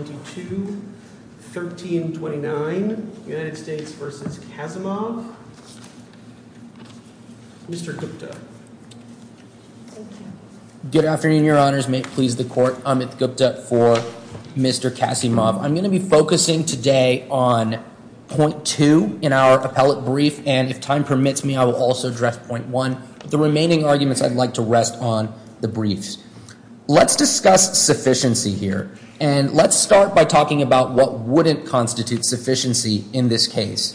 1329 United States v. Kasimov. Mr. Gupta. Good afternoon, your honors. May it please the court. Amit Gupta for Mr. Kasimov. I'm going to be focusing today on point two in our appellate brief, and if time permits me, I will also address point one. The remaining by talking about what wouldn't constitute sufficiency in this case.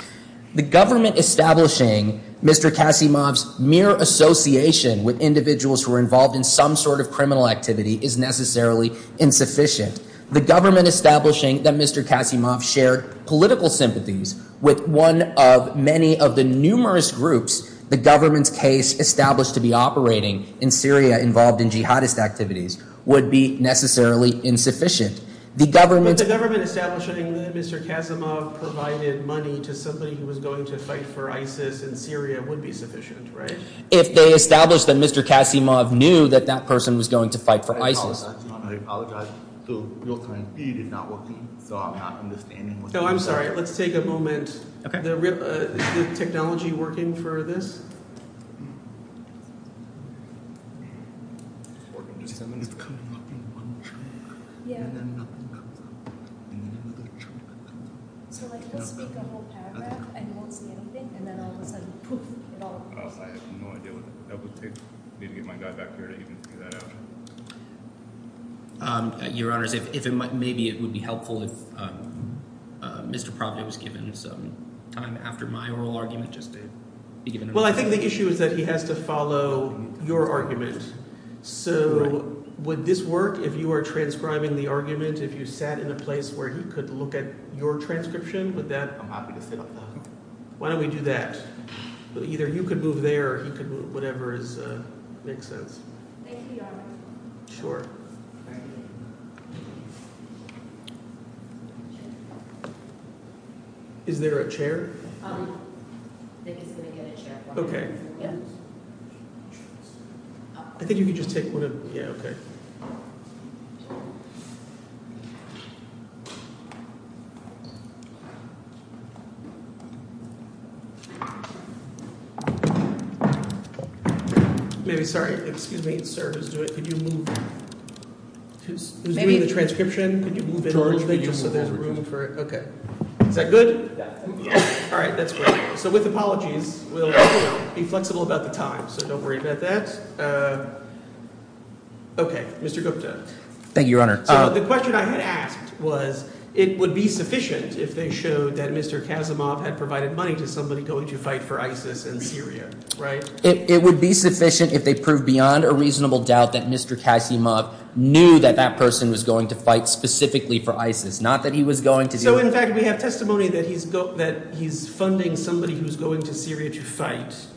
The government establishing Mr. Kasimov's mere association with individuals who were involved in some sort of criminal activity is necessarily insufficient. The government establishing that Mr. Kasimov shared political sympathies with one of many of the numerous groups the government's case established to be operating in Syria involved in jihadist activities would be necessarily insufficient. The government establishing that Mr. Kasimov provided money to somebody who was going to fight for ISIS in Syria would be sufficient, right? If they established that Mr. Kasimov knew that that person was going to fight for ISIS. I apologize. Real time feed is not working. So I'm not understanding what you're saying. I'm sorry. Let's take a moment. Is the technology working for this? Your Honor, maybe it would be helpful if Mr. Profit was given some time after my oral argument Well, I think the issue is that he has to follow your argument. So would this work if you are transcribing the argument? If you sat in a place where he could look at your transcription with that? Why don't we do that? But either you could move there. He could move whatever is make sense. Thank you, Your Honor. Is there a chair? I think he's going to get a chair. Okay. I think you could just take one of... Maybe, sorry, excuse me, sir, could you move? Who's doing the transcription? Could you move it a little bit just so there's room for it? Is that good? All right, that's great. So with apologies, we'll be flexible about the time, so don't worry about that. Okay, Mr. Gupta. Thank you, Your Honor. So the question I had asked was, it would be sufficient if they showed that Mr. Kasimov had provided money to somebody going to fight for ISIS in Syria, right? It would be sufficient if they proved beyond a reasonable doubt that Mr. Kasimov knew that that person was going to fight specifically for ISIS, not that he was going to... So in fact, we have testimony that he's funding somebody who's going to Syria to fight.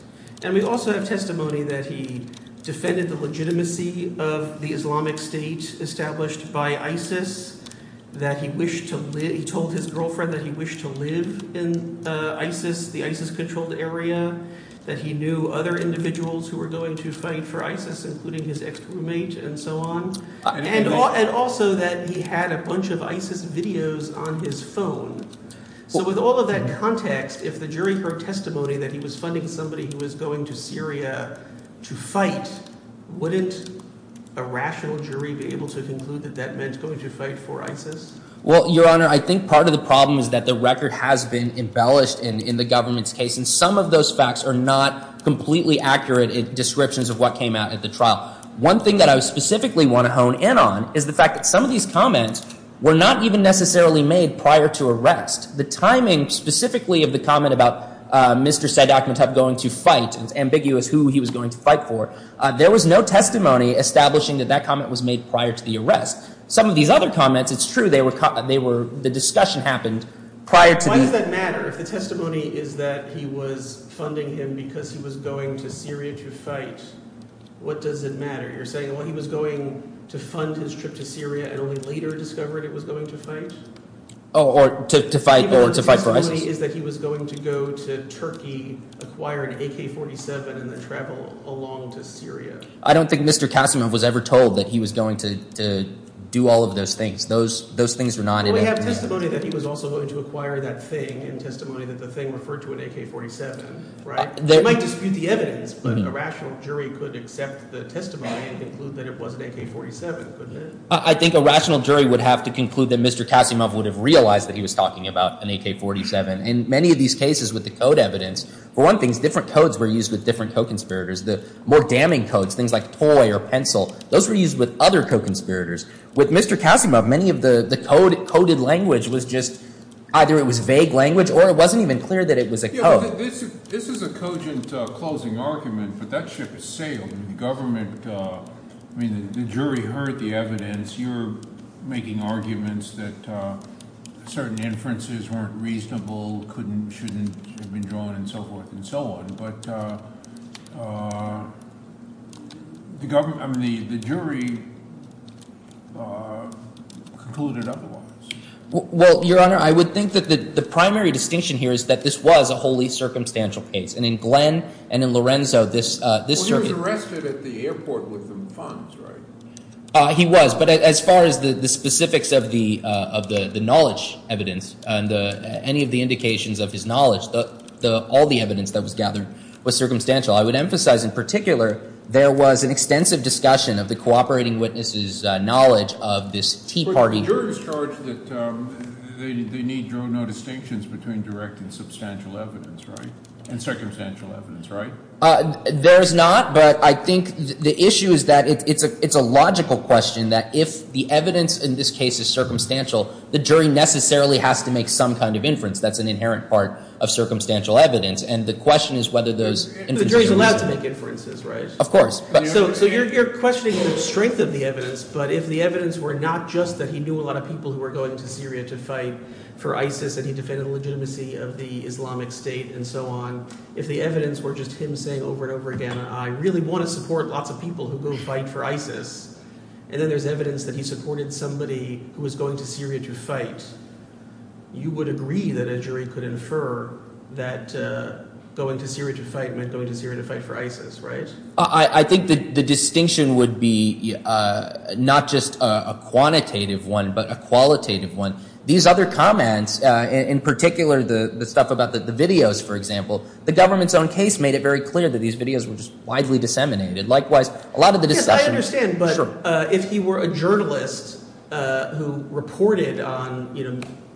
And we also have testimony that he defended the legitimacy of the Islamic State established by ISIS, that he told his girlfriend that he wished to live in ISIS, the ISIS-controlled area, that he knew other individuals who were going to fight for ISIS, including his ex-roommate and so on, and also that he had a bunch of ISIS videos on his phone. So with all of that context, if the jury heard testimony that he was funding somebody who was going to Syria to fight, wouldn't a rational jury be able to conclude that that meant going to fight for ISIS? Well, Your Honor, I think part of the problem is that the record has been embellished in the government's case, and some of those facts are not completely accurate descriptions of what came out at the trial. One thing that I specifically want to hone in on is the fact that some of these comments were not even necessarily made prior to arrest. The timing, specifically, of the comment about Mr. Sadat Muttab going to fight, it was ambiguous who he was going to fight for. There was no testimony establishing that that comment was made prior to the arrest. Some of these other comments, it's true, the discussion happened prior to the... Why does that matter? If the testimony is that he was funding him because he was going to Syria to fight, what does it matter? You're saying, well, he was going to fund his trip to Syria and only later discovered it was going to fight? Oh, or to fight for ISIS? The testimony is that he was going to go to Turkey, acquire an AK-47, and then travel along to Syria. I don't think Mr. Kasimov was ever told that he was going to do all of those things. Those things are not... Well, we have testimony that he was also going to acquire that thing, and testimony that the thing referred to an AK-47, right? You might dispute the evidence, but a rational jury could accept the testimony and conclude that it was an AK-47, couldn't it? I think a rational jury would have to conclude that Mr. Kasimov would have realized that he was talking about an AK-47. In many of these cases with the code evidence, for one thing, different codes were used with different co-conspirators. The more damning codes, things like toy or pencil, those were used with other co-conspirators. With Mr. Kasimov, many of the coded language was just, either it was vague language or it wasn't even clear that it was a code. This is a cogent closing argument, but that ship has sailed. The government, I mean, the jury heard the evidence. You're making arguments that certain inferences weren't reasonable, couldn't, shouldn't have been drawn, and so forth and so on. But the government, I mean, the jury concluded otherwise. Well, Your Honor, I would think that the primary distinction here is that this was a wholly circumstantial case. And in Glenn and in Lorenzo, this circuit... Well, he was arrested at the airport with the funds, right? He was, but as far as the specifics of the knowledge evidence and any of the indications of his knowledge, all the evidence that was gathered was circumstantial. I would emphasize, in particular, there was an extensive discussion of the cooperating witnesses' knowledge of this Tea Party group. The jurors charge that they need no distinctions between direct and substantial evidence, right? And circumstantial evidence, right? There's not, but I think the issue is that it's a logical question that if the evidence in this case is circumstantial, the jury necessarily has to make some kind of inference. That's an inherent part of circumstantial evidence. And the question is whether those... The jury's allowed to make inferences, right? Of course. So you're questioning the strength of the evidence, but if the evidence were not just that he knew a lot of people who were going to Syria to fight for ISIS and he defended the legitimacy of the Islamic State and so on, if the evidence were just him saying over and over again, I really want to support lots of people who go fight for ISIS, and then there's evidence that he supported somebody who was going to Syria to fight, you would agree that a jury could infer that going to Syria to fight meant going to Syria to fight for ISIS, right? I think the distinction would be not just a quantitative one, but a qualitative one. These other comments, in particular the stuff about the videos, for example, the government's own case made it very clear that these videos were just widely disseminated. Likewise, a lot of the discussion... Yes, I understand, but if he were a journalist who reported on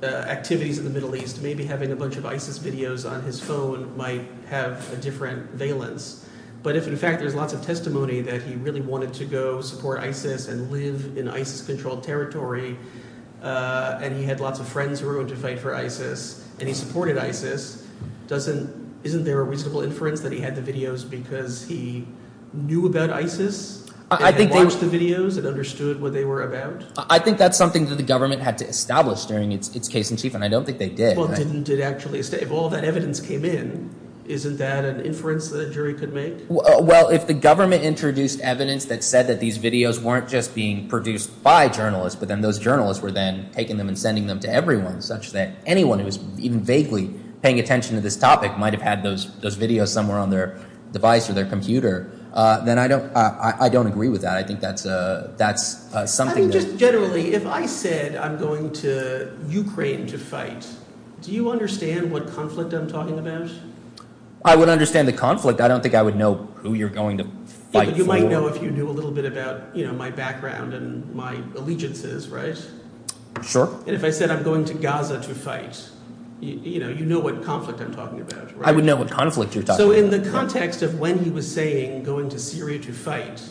activities in the Middle East, maybe having a bunch of ISIS videos on his phone might have a different valence. But if, in fact, there's lots of testimony that he really wanted to go support ISIS and live in ISIS-controlled territory, and he had lots of friends who were going to fight for ISIS, and he supported ISIS, isn't there a reasonable inference that he had the videos because he knew about ISIS and had watched the videos and understood what they were about? I think that's something that the government had to establish during its case-in-chief, and I don't think they did. Well, didn't it actually... If all that evidence came in, isn't that an inference that a jury could make? Well, if the government introduced evidence that said that these videos weren't just being produced by journalists, but then those journalists were then taking them and sending them to everyone such that anyone who was even vaguely paying attention to this topic might have had those videos somewhere on their device or their computer, then I don't agree with that. I think that's something that... Just generally, if I said I'm going to Ukraine to fight, do you understand what conflict I'm talking about? I would understand the conflict. I don't think I would know who you're going to fight for. You might know if you knew a little bit about my background and my allegiances, right? Sure. And if I said I'm going to Gaza to fight, you know what conflict I'm talking about, right? I would know what conflict you're talking about. So in the context of when he was saying going to Syria to fight,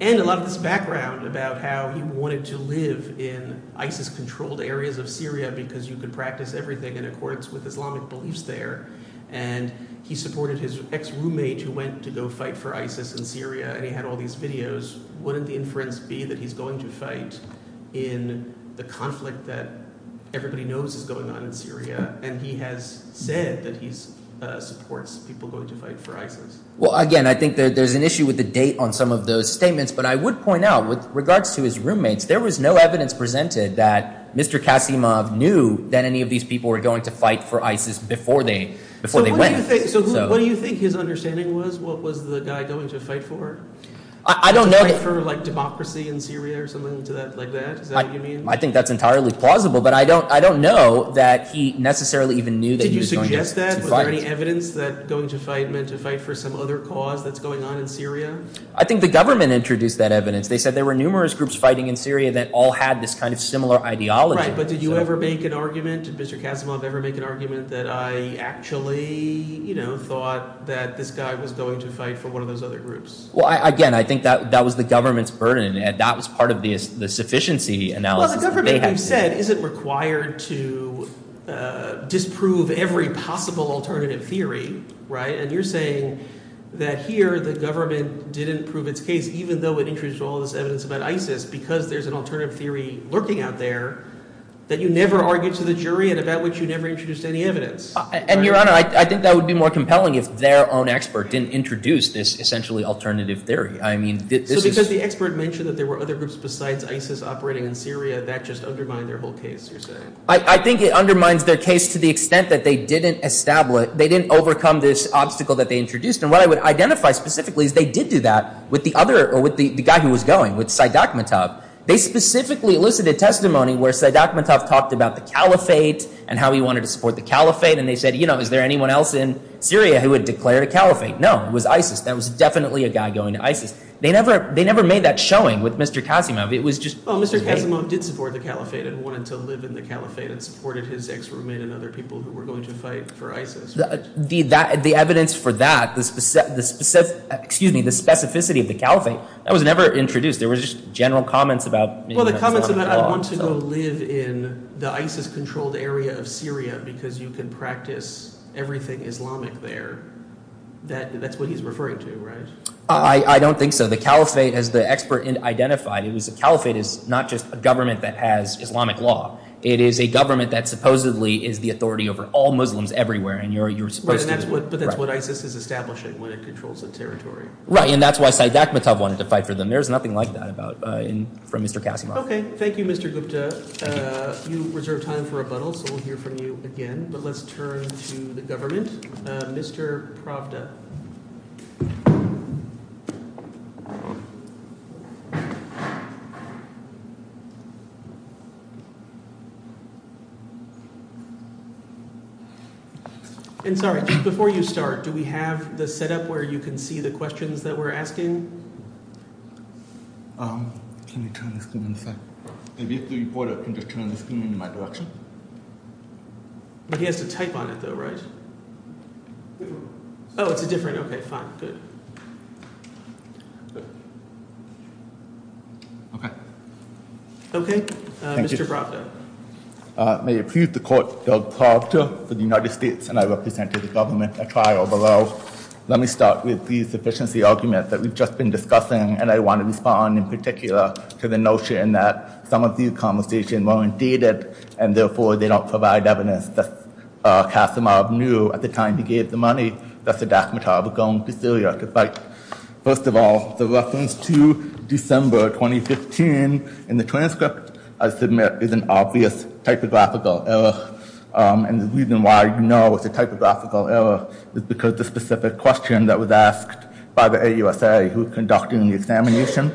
and a lot of this background about how he wanted to live in ISIS-controlled areas of Syria because you could practice everything in accordance with Islamic beliefs there, and he supported his ex-roommate who went to go fight for ISIS in Syria, and he had all these videos, wouldn't the inference be that he's going to fight in the conflict that everybody knows is going on in Syria, and he has said that he supports people going to fight for ISIS? Well, again, I think there's an issue with the date on some of those statements, but I would point out with regards to his roommates, there was no evidence presented that Mr. Kasimov knew that any of these people were going to fight for ISIS before they went. So what do you think his understanding was? What was the guy going to fight for? To fight for democracy in Syria or something like that? Is that what you mean? I think that's entirely plausible, but I don't know that he necessarily even knew that he was going to fight. Did you suggest that? Was there any evidence that going to fight meant to fight for some other cause that's going on in Syria? I think the government introduced that evidence. They said there were numerous groups fighting in Syria that all had this kind of similar ideology. Right, but did you ever make an argument? Did Mr. Kasimov ever make an argument that I actually thought that this guy was going to fight for one of those other groups? Well, again, I think that was the government's burden, and that was part of the sufficiency analysis that they had. Well, the government, you said, isn't required to disprove every possible alternative theory, right? And you're saying that here, the government didn't prove its case, even though it introduced all this evidence about ISIS, because there's an alternative theory lurking out there that you never argued to the jury and about which you never introduced any evidence. And, Your Honor, I think that would be more compelling if their own expert didn't introduce this essentially alternative theory. So because the expert mentioned that there were other groups besides ISIS operating in Syria, that just undermined their whole case, you're saying? I think it undermines their case to the extent that they didn't establish, they didn't overcome this obstacle that they introduced. And what I would identify specifically is they did do that with the other, or with the guy who was going, with Saeed Akhmetov. They specifically elicited testimony where Saeed Akhmetov talked about the caliphate and how he wanted to support the caliphate, and they said, you know, is there anyone else in Syria who would declare a caliphate? No, it was ISIS. That was definitely a guy going to ISIS. They never made that showing with Mr. Kasimov. It was just his way. Well, Mr. Kasimov did support the caliphate and wanted to live in the caliphate and supported his ex-roommate and other people who were going to fight for ISIS, right? The evidence for that, the specificity of the caliphate, that was never introduced. There were just general comments about making that Islamic law. Well, the comments about, I want to go live in the ISIS-controlled area of Syria because you can practice everything Islamic there, that's what he's referring to, right? I don't think so. The caliphate, as the expert identified, it was the caliphate is not just a government that has Islamic law. It is a government that supposedly is the authority over all Muslims everywhere. Right, but that's what ISIS is establishing when it controls the territory. Right, and that's why Saeed Akhmetov wanted to fight for them. There's nothing like that from Mr. Kasimov. Okay, thank you, Mr. Gupta. You reserved time for rebuttal, so we'll hear from you again. But let's turn to the government. Mr. Pravda. And sorry, just before you start, do we have the setup where you can see the questions that we're asking? Can you turn the screen to the side? If you have to report it, can you just turn the screen in my direction? He has to type on it, though, right? Oh, it's a different, okay, fine, good. Okay. Okay. Thank you. Mr. Pravda. May it please the court, Doug Pravda for the United States, and I represent to the government a trial below. Let me start with the sufficiency argument that we've just been discussing, and I want to respond in particular to the notion that some of these conversations weren't dated, and therefore they don't provide evidence that Kasimov knew at the time he gave the money that Saeed Akhmetov had gone to Syria to fight. First of all, the reference to December 2015 in the transcript, I submit, is an obvious typographical error. And the reason why you know it's a typographical error is because the specific question that was asked by the AUSA who was conducting the examination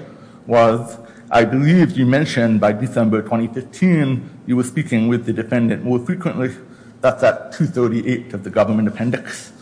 was, I believe you mentioned by December 2015 you were speaking with the defendant more frequently. That's at 238 of the government appendix.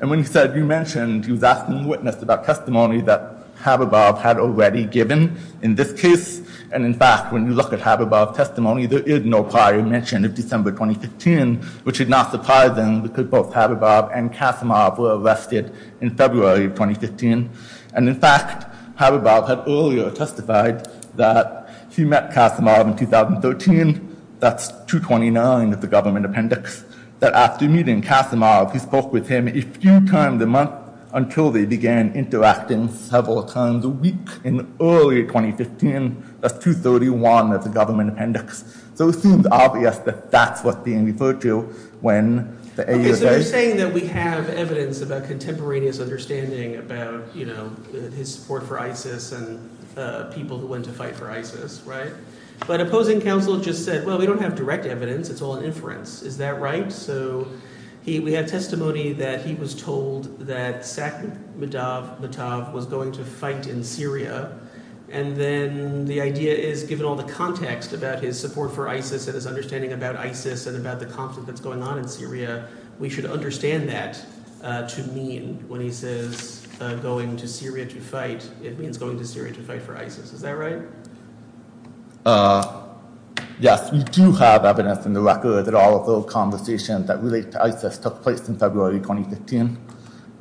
And when you said you mentioned he was asking the witness about testimony that Khabibov had already given in this case. And, in fact, when you look at Khabibov's testimony, there is no prior mention of December 2015, which is not surprising because both Khabibov and Kasimov were arrested in February of 2015. And, in fact, Khabibov had earlier testified that he met Kasimov in 2013. That's 229 of the government appendix. That after meeting Kasimov, he spoke with him a few times a month until they began interacting several times a week in early 2015. That's 231 of the government appendix. So it seems obvious that that's what's being referred to when the AUSA. Okay, so you're saying that we have evidence of a contemporaneous understanding about his support for ISIS and people who went to fight for ISIS, right? But opposing counsel just said, well, we don't have direct evidence. It's all inference. Is that right? So we have testimony that he was told that Saqib Medav Medav was going to fight in Syria. And then the idea is given all the context about his support for ISIS and his understanding about ISIS and about the conflict that's going on in Syria, we should understand that to mean when he says going to Syria to fight, it means going to Syria to fight for ISIS. Is that right? Yes, we do have evidence in the record that all of those conversations that relate to ISIS took place in February 2015.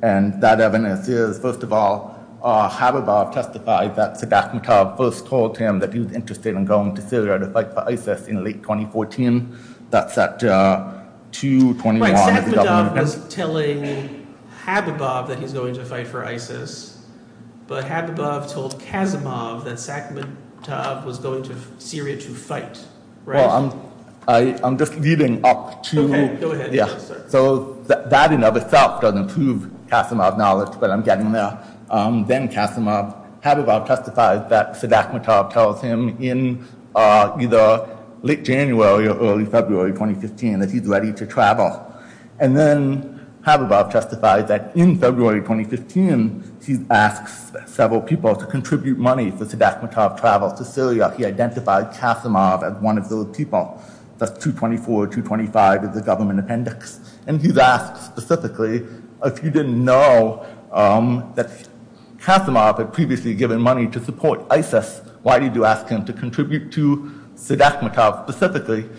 And that evidence is, first of all, Habibov testified that Saqib Medav first told him that he was interested in going to Syria to fight for ISIS in late 2014. That's at 221 of the government appendix. Right, Saqib Medav was telling Habibov that he's going to fight for ISIS, but Habibov told Casimov that Saqib Medav was going to Syria to fight. Well, I'm just leading up to. Okay, go ahead. So that in and of itself doesn't prove Casimov's knowledge, but I'm getting there. Then Casimov, Habibov testifies that Sadat Medav tells him in either late January or early February 2015 that he's ready to travel. And then Habibov testifies that in February 2015 he asks several people to contribute money for Sadat Medav's travel to Syria. He identified Casimov as one of those people. That's 224, 225 of the government appendix. And he's asked specifically, if he didn't know that Casimov had previously given money to support ISIS, why did you ask him to contribute to Sadat Medav specifically?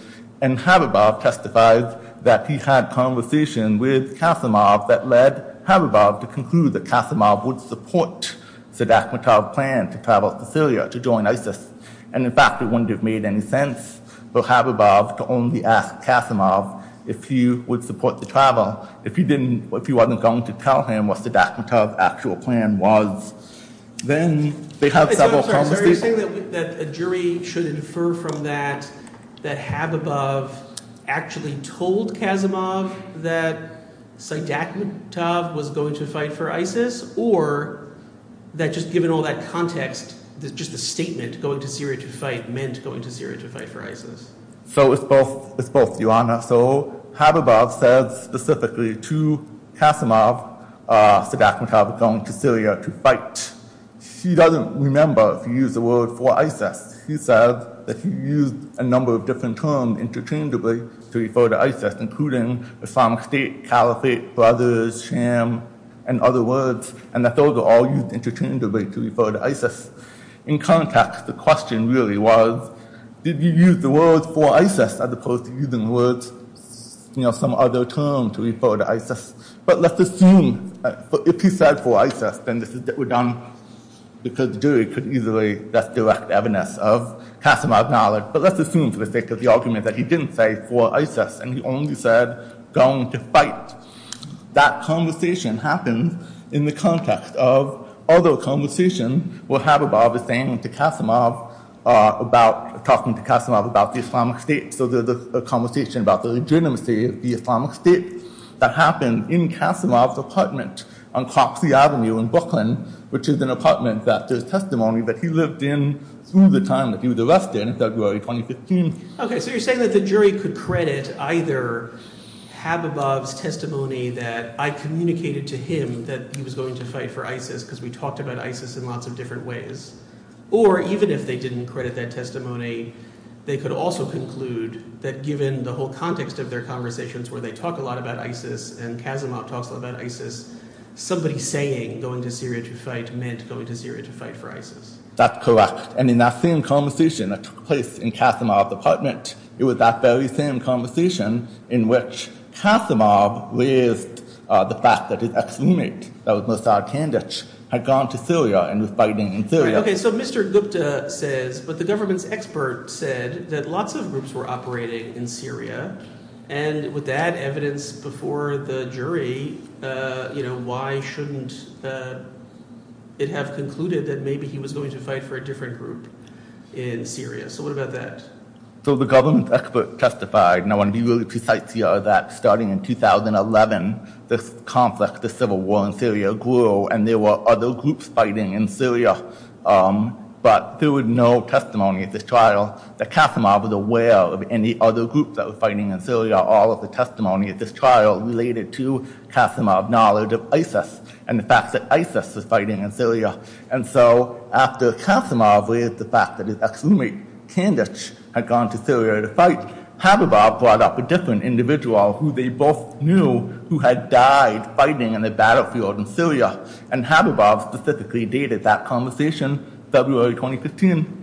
And Habibov testifies that he had conversation with Casimov that led Habibov to conclude that Casimov would support Sadat Medav's plan to travel to Syria to join ISIS. And, in fact, it wouldn't have made any sense for Habibov to only ask Casimov if he would support the travel. If he didn't, if he wasn't going to tell him what Sadat Medav's actual plan was, then they had several conversations. So you're saying that a jury should infer from that that Habibov actually told Casimov that Sadat Medav was going to fight for ISIS? Or that just given all that context, just the statement, going to Syria to fight, meant going to Syria to fight for ISIS? So it's both, it's both, Your Honor. So Habibov said specifically to Casimov, Sadat Medav going to Syria to fight. He doesn't remember if he used the word for ISIS. He said that he used a number of different terms interchangeably to refer to ISIS, including Islamic State, caliphate, brothers, sham, and other words, and that those are all used interchangeably to refer to ISIS. In context, the question really was, did he use the word for ISIS as opposed to using words, you know, some other term to refer to ISIS? But let's assume, if he said for ISIS, then we're done, because the jury could easily just direct evidence of Casimov's knowledge. But let's assume for the sake of the argument that he didn't say for ISIS and he only said going to fight. That conversation happens in the context of other conversations where Habibov is saying to Casimov about, talking to Casimov about the Islamic State. So there's a conversation about the legitimacy of the Islamic State that happened in Casimov's apartment on Coxy Avenue in Brooklyn, which is an apartment that there's testimony that he lived in through the time that he was arrested in February 2015. Okay, so you're saying that the jury could credit either Habibov's testimony that I communicated to him that he was going to fight for ISIS because we talked about ISIS in lots of different ways, or even if they didn't credit that testimony, they could also conclude that given the whole context of their conversations where they talk a lot about ISIS and Casimov talks a lot about ISIS, somebody saying going to Syria to fight meant going to Syria to fight for ISIS. That's correct, and in that same conversation that took place in Casimov's apartment, it was that very same conversation in which Casimov raised the fact that his ex-roommate, that was Mossad Kandich, had gone to Syria and was fighting in Syria. Okay, so Mr. Gupta says, but the government's expert said, that lots of groups were operating in Syria, and with that evidence before the jury, why shouldn't it have concluded that maybe he was going to fight for a different group in Syria? So what about that? So the government's expert testified, and I want to be really precise here, that starting in 2011, this conflict, this civil war in Syria grew, and there were other groups fighting in Syria, but there was no testimony at this trial that Casimov was aware of any other groups that were fighting in Syria. All of the testimony at this trial related to Casimov's knowledge of ISIS and the fact that ISIS was fighting in Syria. And so after Casimov raised the fact that his ex-roommate, Kandich, had gone to Syria to fight, Habibov brought up a different individual who they both knew who had died fighting in a battlefield in Syria, and Habibov specifically dated that conversation February 2015.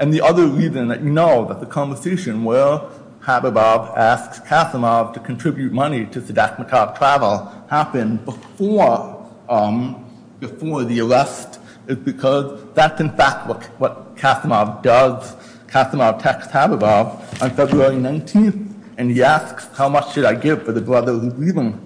And the other reason that you know that the conversation where Habibov asks Casimov to contribute money to Sadat Maqab travel happened before the arrest is because that's in fact what Casimov does. Casimov texts Habibov on February 19th, and he asks, how much did I give for the brother who's leaving?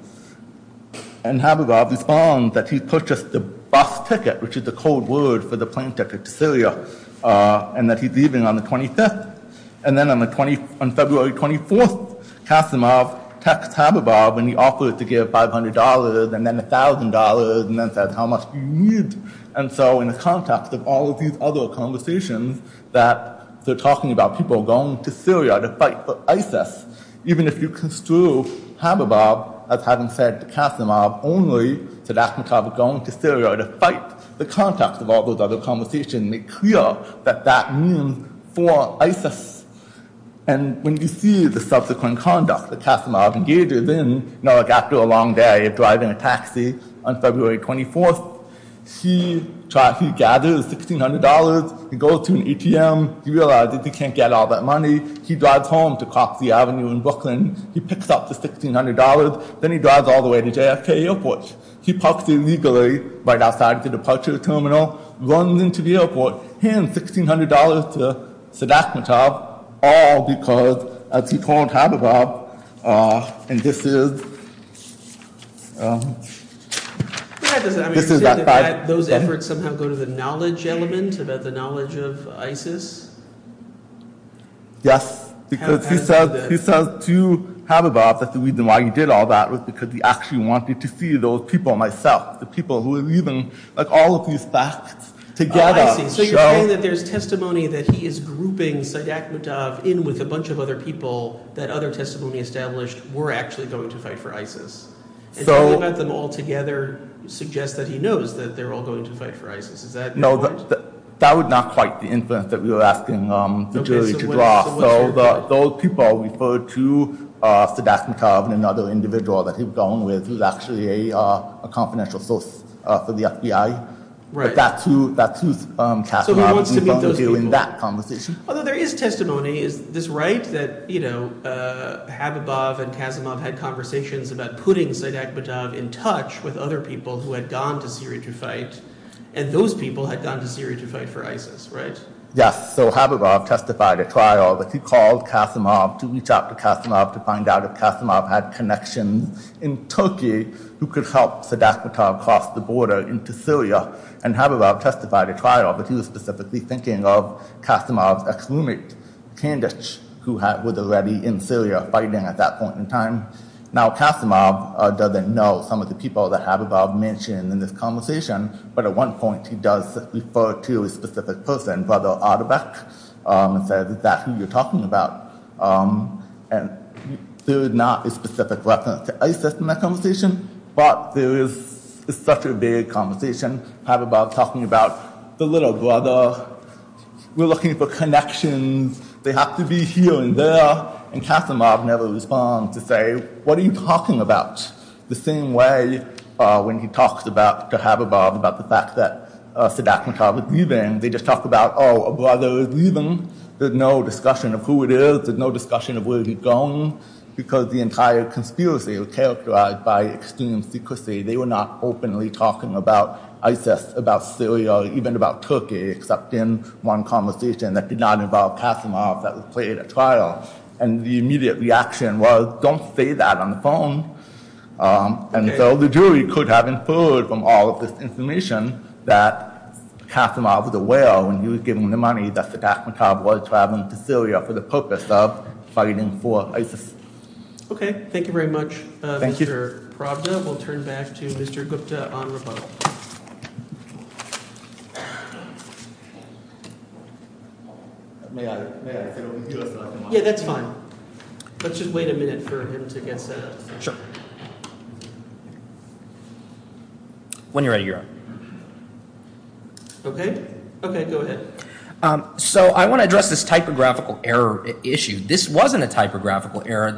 And Habibov responds that he purchased the bus ticket, which is the code word for the plane ticket to Syria, and that he's leaving on the 25th. And then on February 24th, Casimov texts Habibov and he offers to give $500 and then $1,000 and then says how much do you need? And so in the context of all of these other conversations that they're talking about people going to Syria to fight for ISIS, even if you construe Habibov as having said to Casimov only that Sadat Maqab is going to Syria to fight, the context of all those other conversations make clear that that means for ISIS. And when you see the subsequent conduct that Casimov engages in, you know like after a long day of driving a taxi on February 24th, he gathers $1,600, he goes to an ATM, he realizes he can't get all that money, he drives home to Coxy Avenue in Brooklyn, he picks up the $1,600, then he drives all the way to JFK Airport. He parks illegally right outside the departure terminal, runs into the airport, hands $1,600 to Sadat Maqab, all because as he told Habibov, and this is that fact. Those efforts somehow go to the knowledge element about the knowledge of ISIS? Yes, because he says to Habibov that the reason why he did all that was because he actually wanted to see those people, myself, the people who are leaving, like all of these facts together. So you're saying that there's testimony that he is grouping Sadat Maqab in with a bunch of other people that other testimony established were actually going to fight for ISIS. And talking about them all together suggests that he knows that they're all going to fight for ISIS. No, that was not quite the inference that we were asking the jury to draw. So those people referred to Sadat Maqab and another individual that he'd gone with who's actually a confidential source for the FBI, but that's who Kasimov is referring to in that conversation. Although there is testimony, is this right? That Habibov and Kasimov had conversations about putting Sadat Maqab in touch with other people who had gone to Syria to fight, and those people had gone to Syria to fight for ISIS, right? Yes, so Habibov testified at trial that he called Kasimov to reach out to Kasimov to find out if Kasimov had connections in Turkey who could help Sadat Maqab cross the border into Syria. And Habibov testified at trial that he was specifically thinking of Kasimov's ex-roommate, Candace, who was already in Syria fighting at that point in time. Now Kasimov doesn't know some of the people that Habibov mentioned in this conversation, but at one point he does refer to a specific person, Brother Adebek, and says, is that who you're talking about? And there is not a specific reference to ISIS in that conversation, but there is such a vague conversation Habibov's talking about the little brother, we're looking for connections, they have to be here and there, and Kasimov never responds to say, what are you talking about? The same way when he talks to Habibov about the fact that Sadat Maqab is leaving, they just talk about, oh, a brother is leaving, there's no discussion of who it is, there's no discussion of where he's going, because the entire conspiracy was characterized by extreme secrecy. They were not openly talking about ISIS, about Syria, even about Turkey, except in one conversation that did not involve Kasimov that was played at trial. And the immediate reaction was, don't say that on the phone. And so the jury could have inferred from all of this information that Kasimov was aware when he was giving the money that Sadat Maqab was traveling to Syria for the purpose of fighting for ISIS. Okay. Thank you very much, Mr. Paravda. We'll turn back to Mr. Gupta on rebuttal. May I? Yeah, that's fine. Let's just wait a minute for him to get set up. When you're ready, you're on. Okay. Okay, go ahead. So I want to address this typographical error issue. This wasn't a typographical error.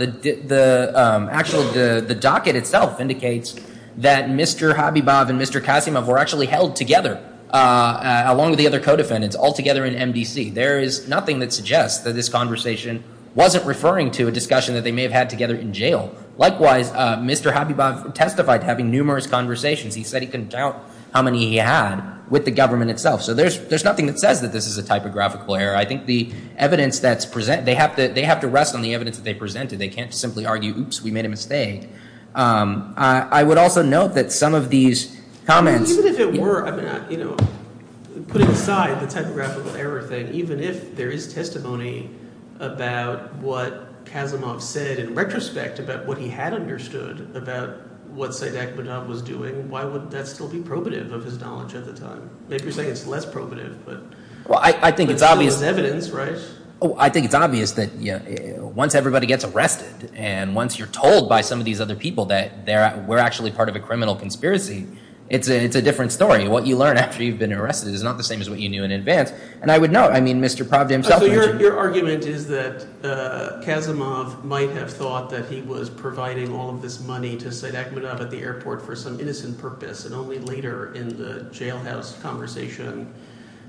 Actually, the docket itself indicates that Mr. Habibov and Mr. Kasimov were actually held together, along with the other co-defendants, all together in MDC. There is nothing that suggests that this conversation wasn't referring to a discussion that they may have had together in jail. Likewise, Mr. Habibov testified to having numerous conversations. He said he couldn't count how many he had with the government itself. So there's nothing that says that this is a typographical error. I think the evidence that's presented—they have to rest on the evidence that they presented. They can't simply argue, oops, we made a mistake. I would also note that some of these comments— Even if it were—putting aside the typographical error thing, even if there is testimony about what Kasimov said in retrospect about what he had understood about what Syed Akhmedov was doing, why would that still be probative of his knowledge at the time? Maybe you're saying it's less probative, but— Well, I think it's obvious— But still it's evidence, right? Oh, I think it's obvious that once everybody gets arrested and once you're told by some of these other people that we're actually part of a criminal conspiracy, it's a different story. What you learn after you've been arrested is not the same as what you knew in advance. And I would note, I mean, Mr. Pravda himself— So your argument is that Kasimov might have thought that he was providing all of this money to Syed Akhmedov at the airport for some innocent purpose, and only later in the jailhouse conversation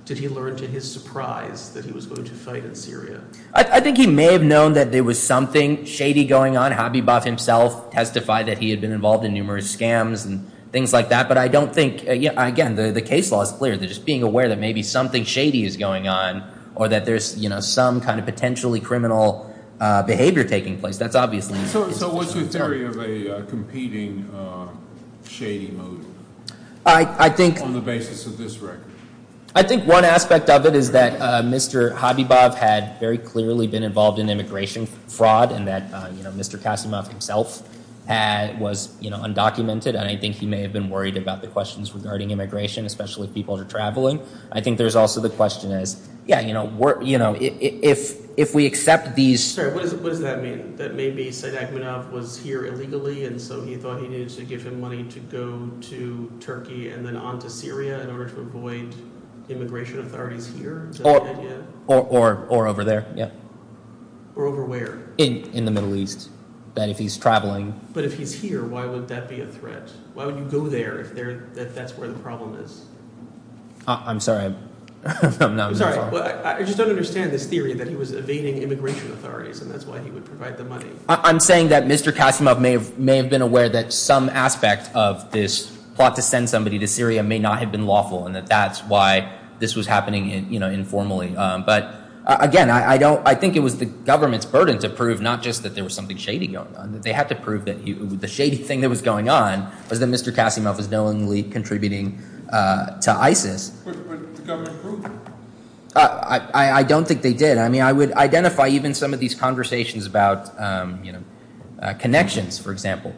did he learn to his surprise that he was going to fight in Syria. I think he may have known that there was something shady going on. Habibov himself testified that he had been involved in numerous scams and things like that. But I don't think—again, the case law is clear. They're just being aware that maybe something shady is going on or that there's some kind of potentially criminal behavior taking place. That's obviously— So what's your theory of a competing shady move on the basis of this record? I think one aspect of it is that Mr. Habibov had very clearly been involved in immigration fraud and that Mr. Kasimov himself was undocumented, and I think he may have been worried about the questions regarding immigration, especially if people are traveling. I think there's also the question as, yeah, if we accept these— I'm sorry. What does that mean? That maybe Said Akhmedov was here illegally, and so he thought he needed to give him money to go to Turkey and then on to Syria in order to avoid immigration authorities here? Is that the idea? Or over there, yeah. Or over where? In the Middle East, that if he's traveling. But if he's here, why would that be a threat? Why would you go there if that's where the problem is? I'm sorry. I'm not— I'm saying that Mr. Kasimov may have been aware that some aspect of this plot to send somebody to Syria may not have been lawful and that that's why this was happening informally. But again, I think it was the government's burden to prove not just that there was something shady going on. They had to prove that the shady thing that was going on was that Mr. Kasimov was knowingly contributing to ISIS. I don't think they did. I mean, I would identify even some of these conversations about connections, for example.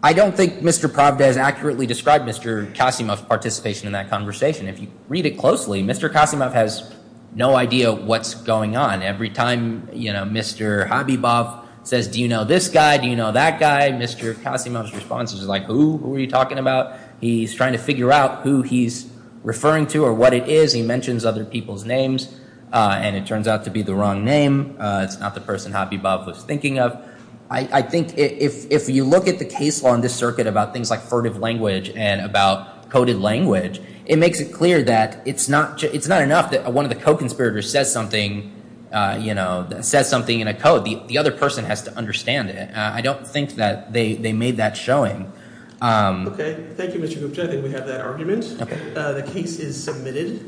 I don't think Mr. Pravda has accurately described Mr. Kasimov's participation in that conversation. If you read it closely, Mr. Kasimov has no idea what's going on. Every time Mr. Habibov says, do you know this guy? Do you know that guy? Mr. Kasimov's response is like, who are you talking about? He's trying to figure out who he's referring to or what it is. He mentions other people's names and it turns out to be the wrong name. It's not the person Habibov was thinking of. I think if you look at the case law in this circuit about things like furtive language and about coded language, it makes it clear that it's not enough that one of the co-conspirators says something in a code. The other person has to understand it. I don't think that they made that showing. Okay. Thank you, Mr. Gupta. I think we have that argument. The case is submitted.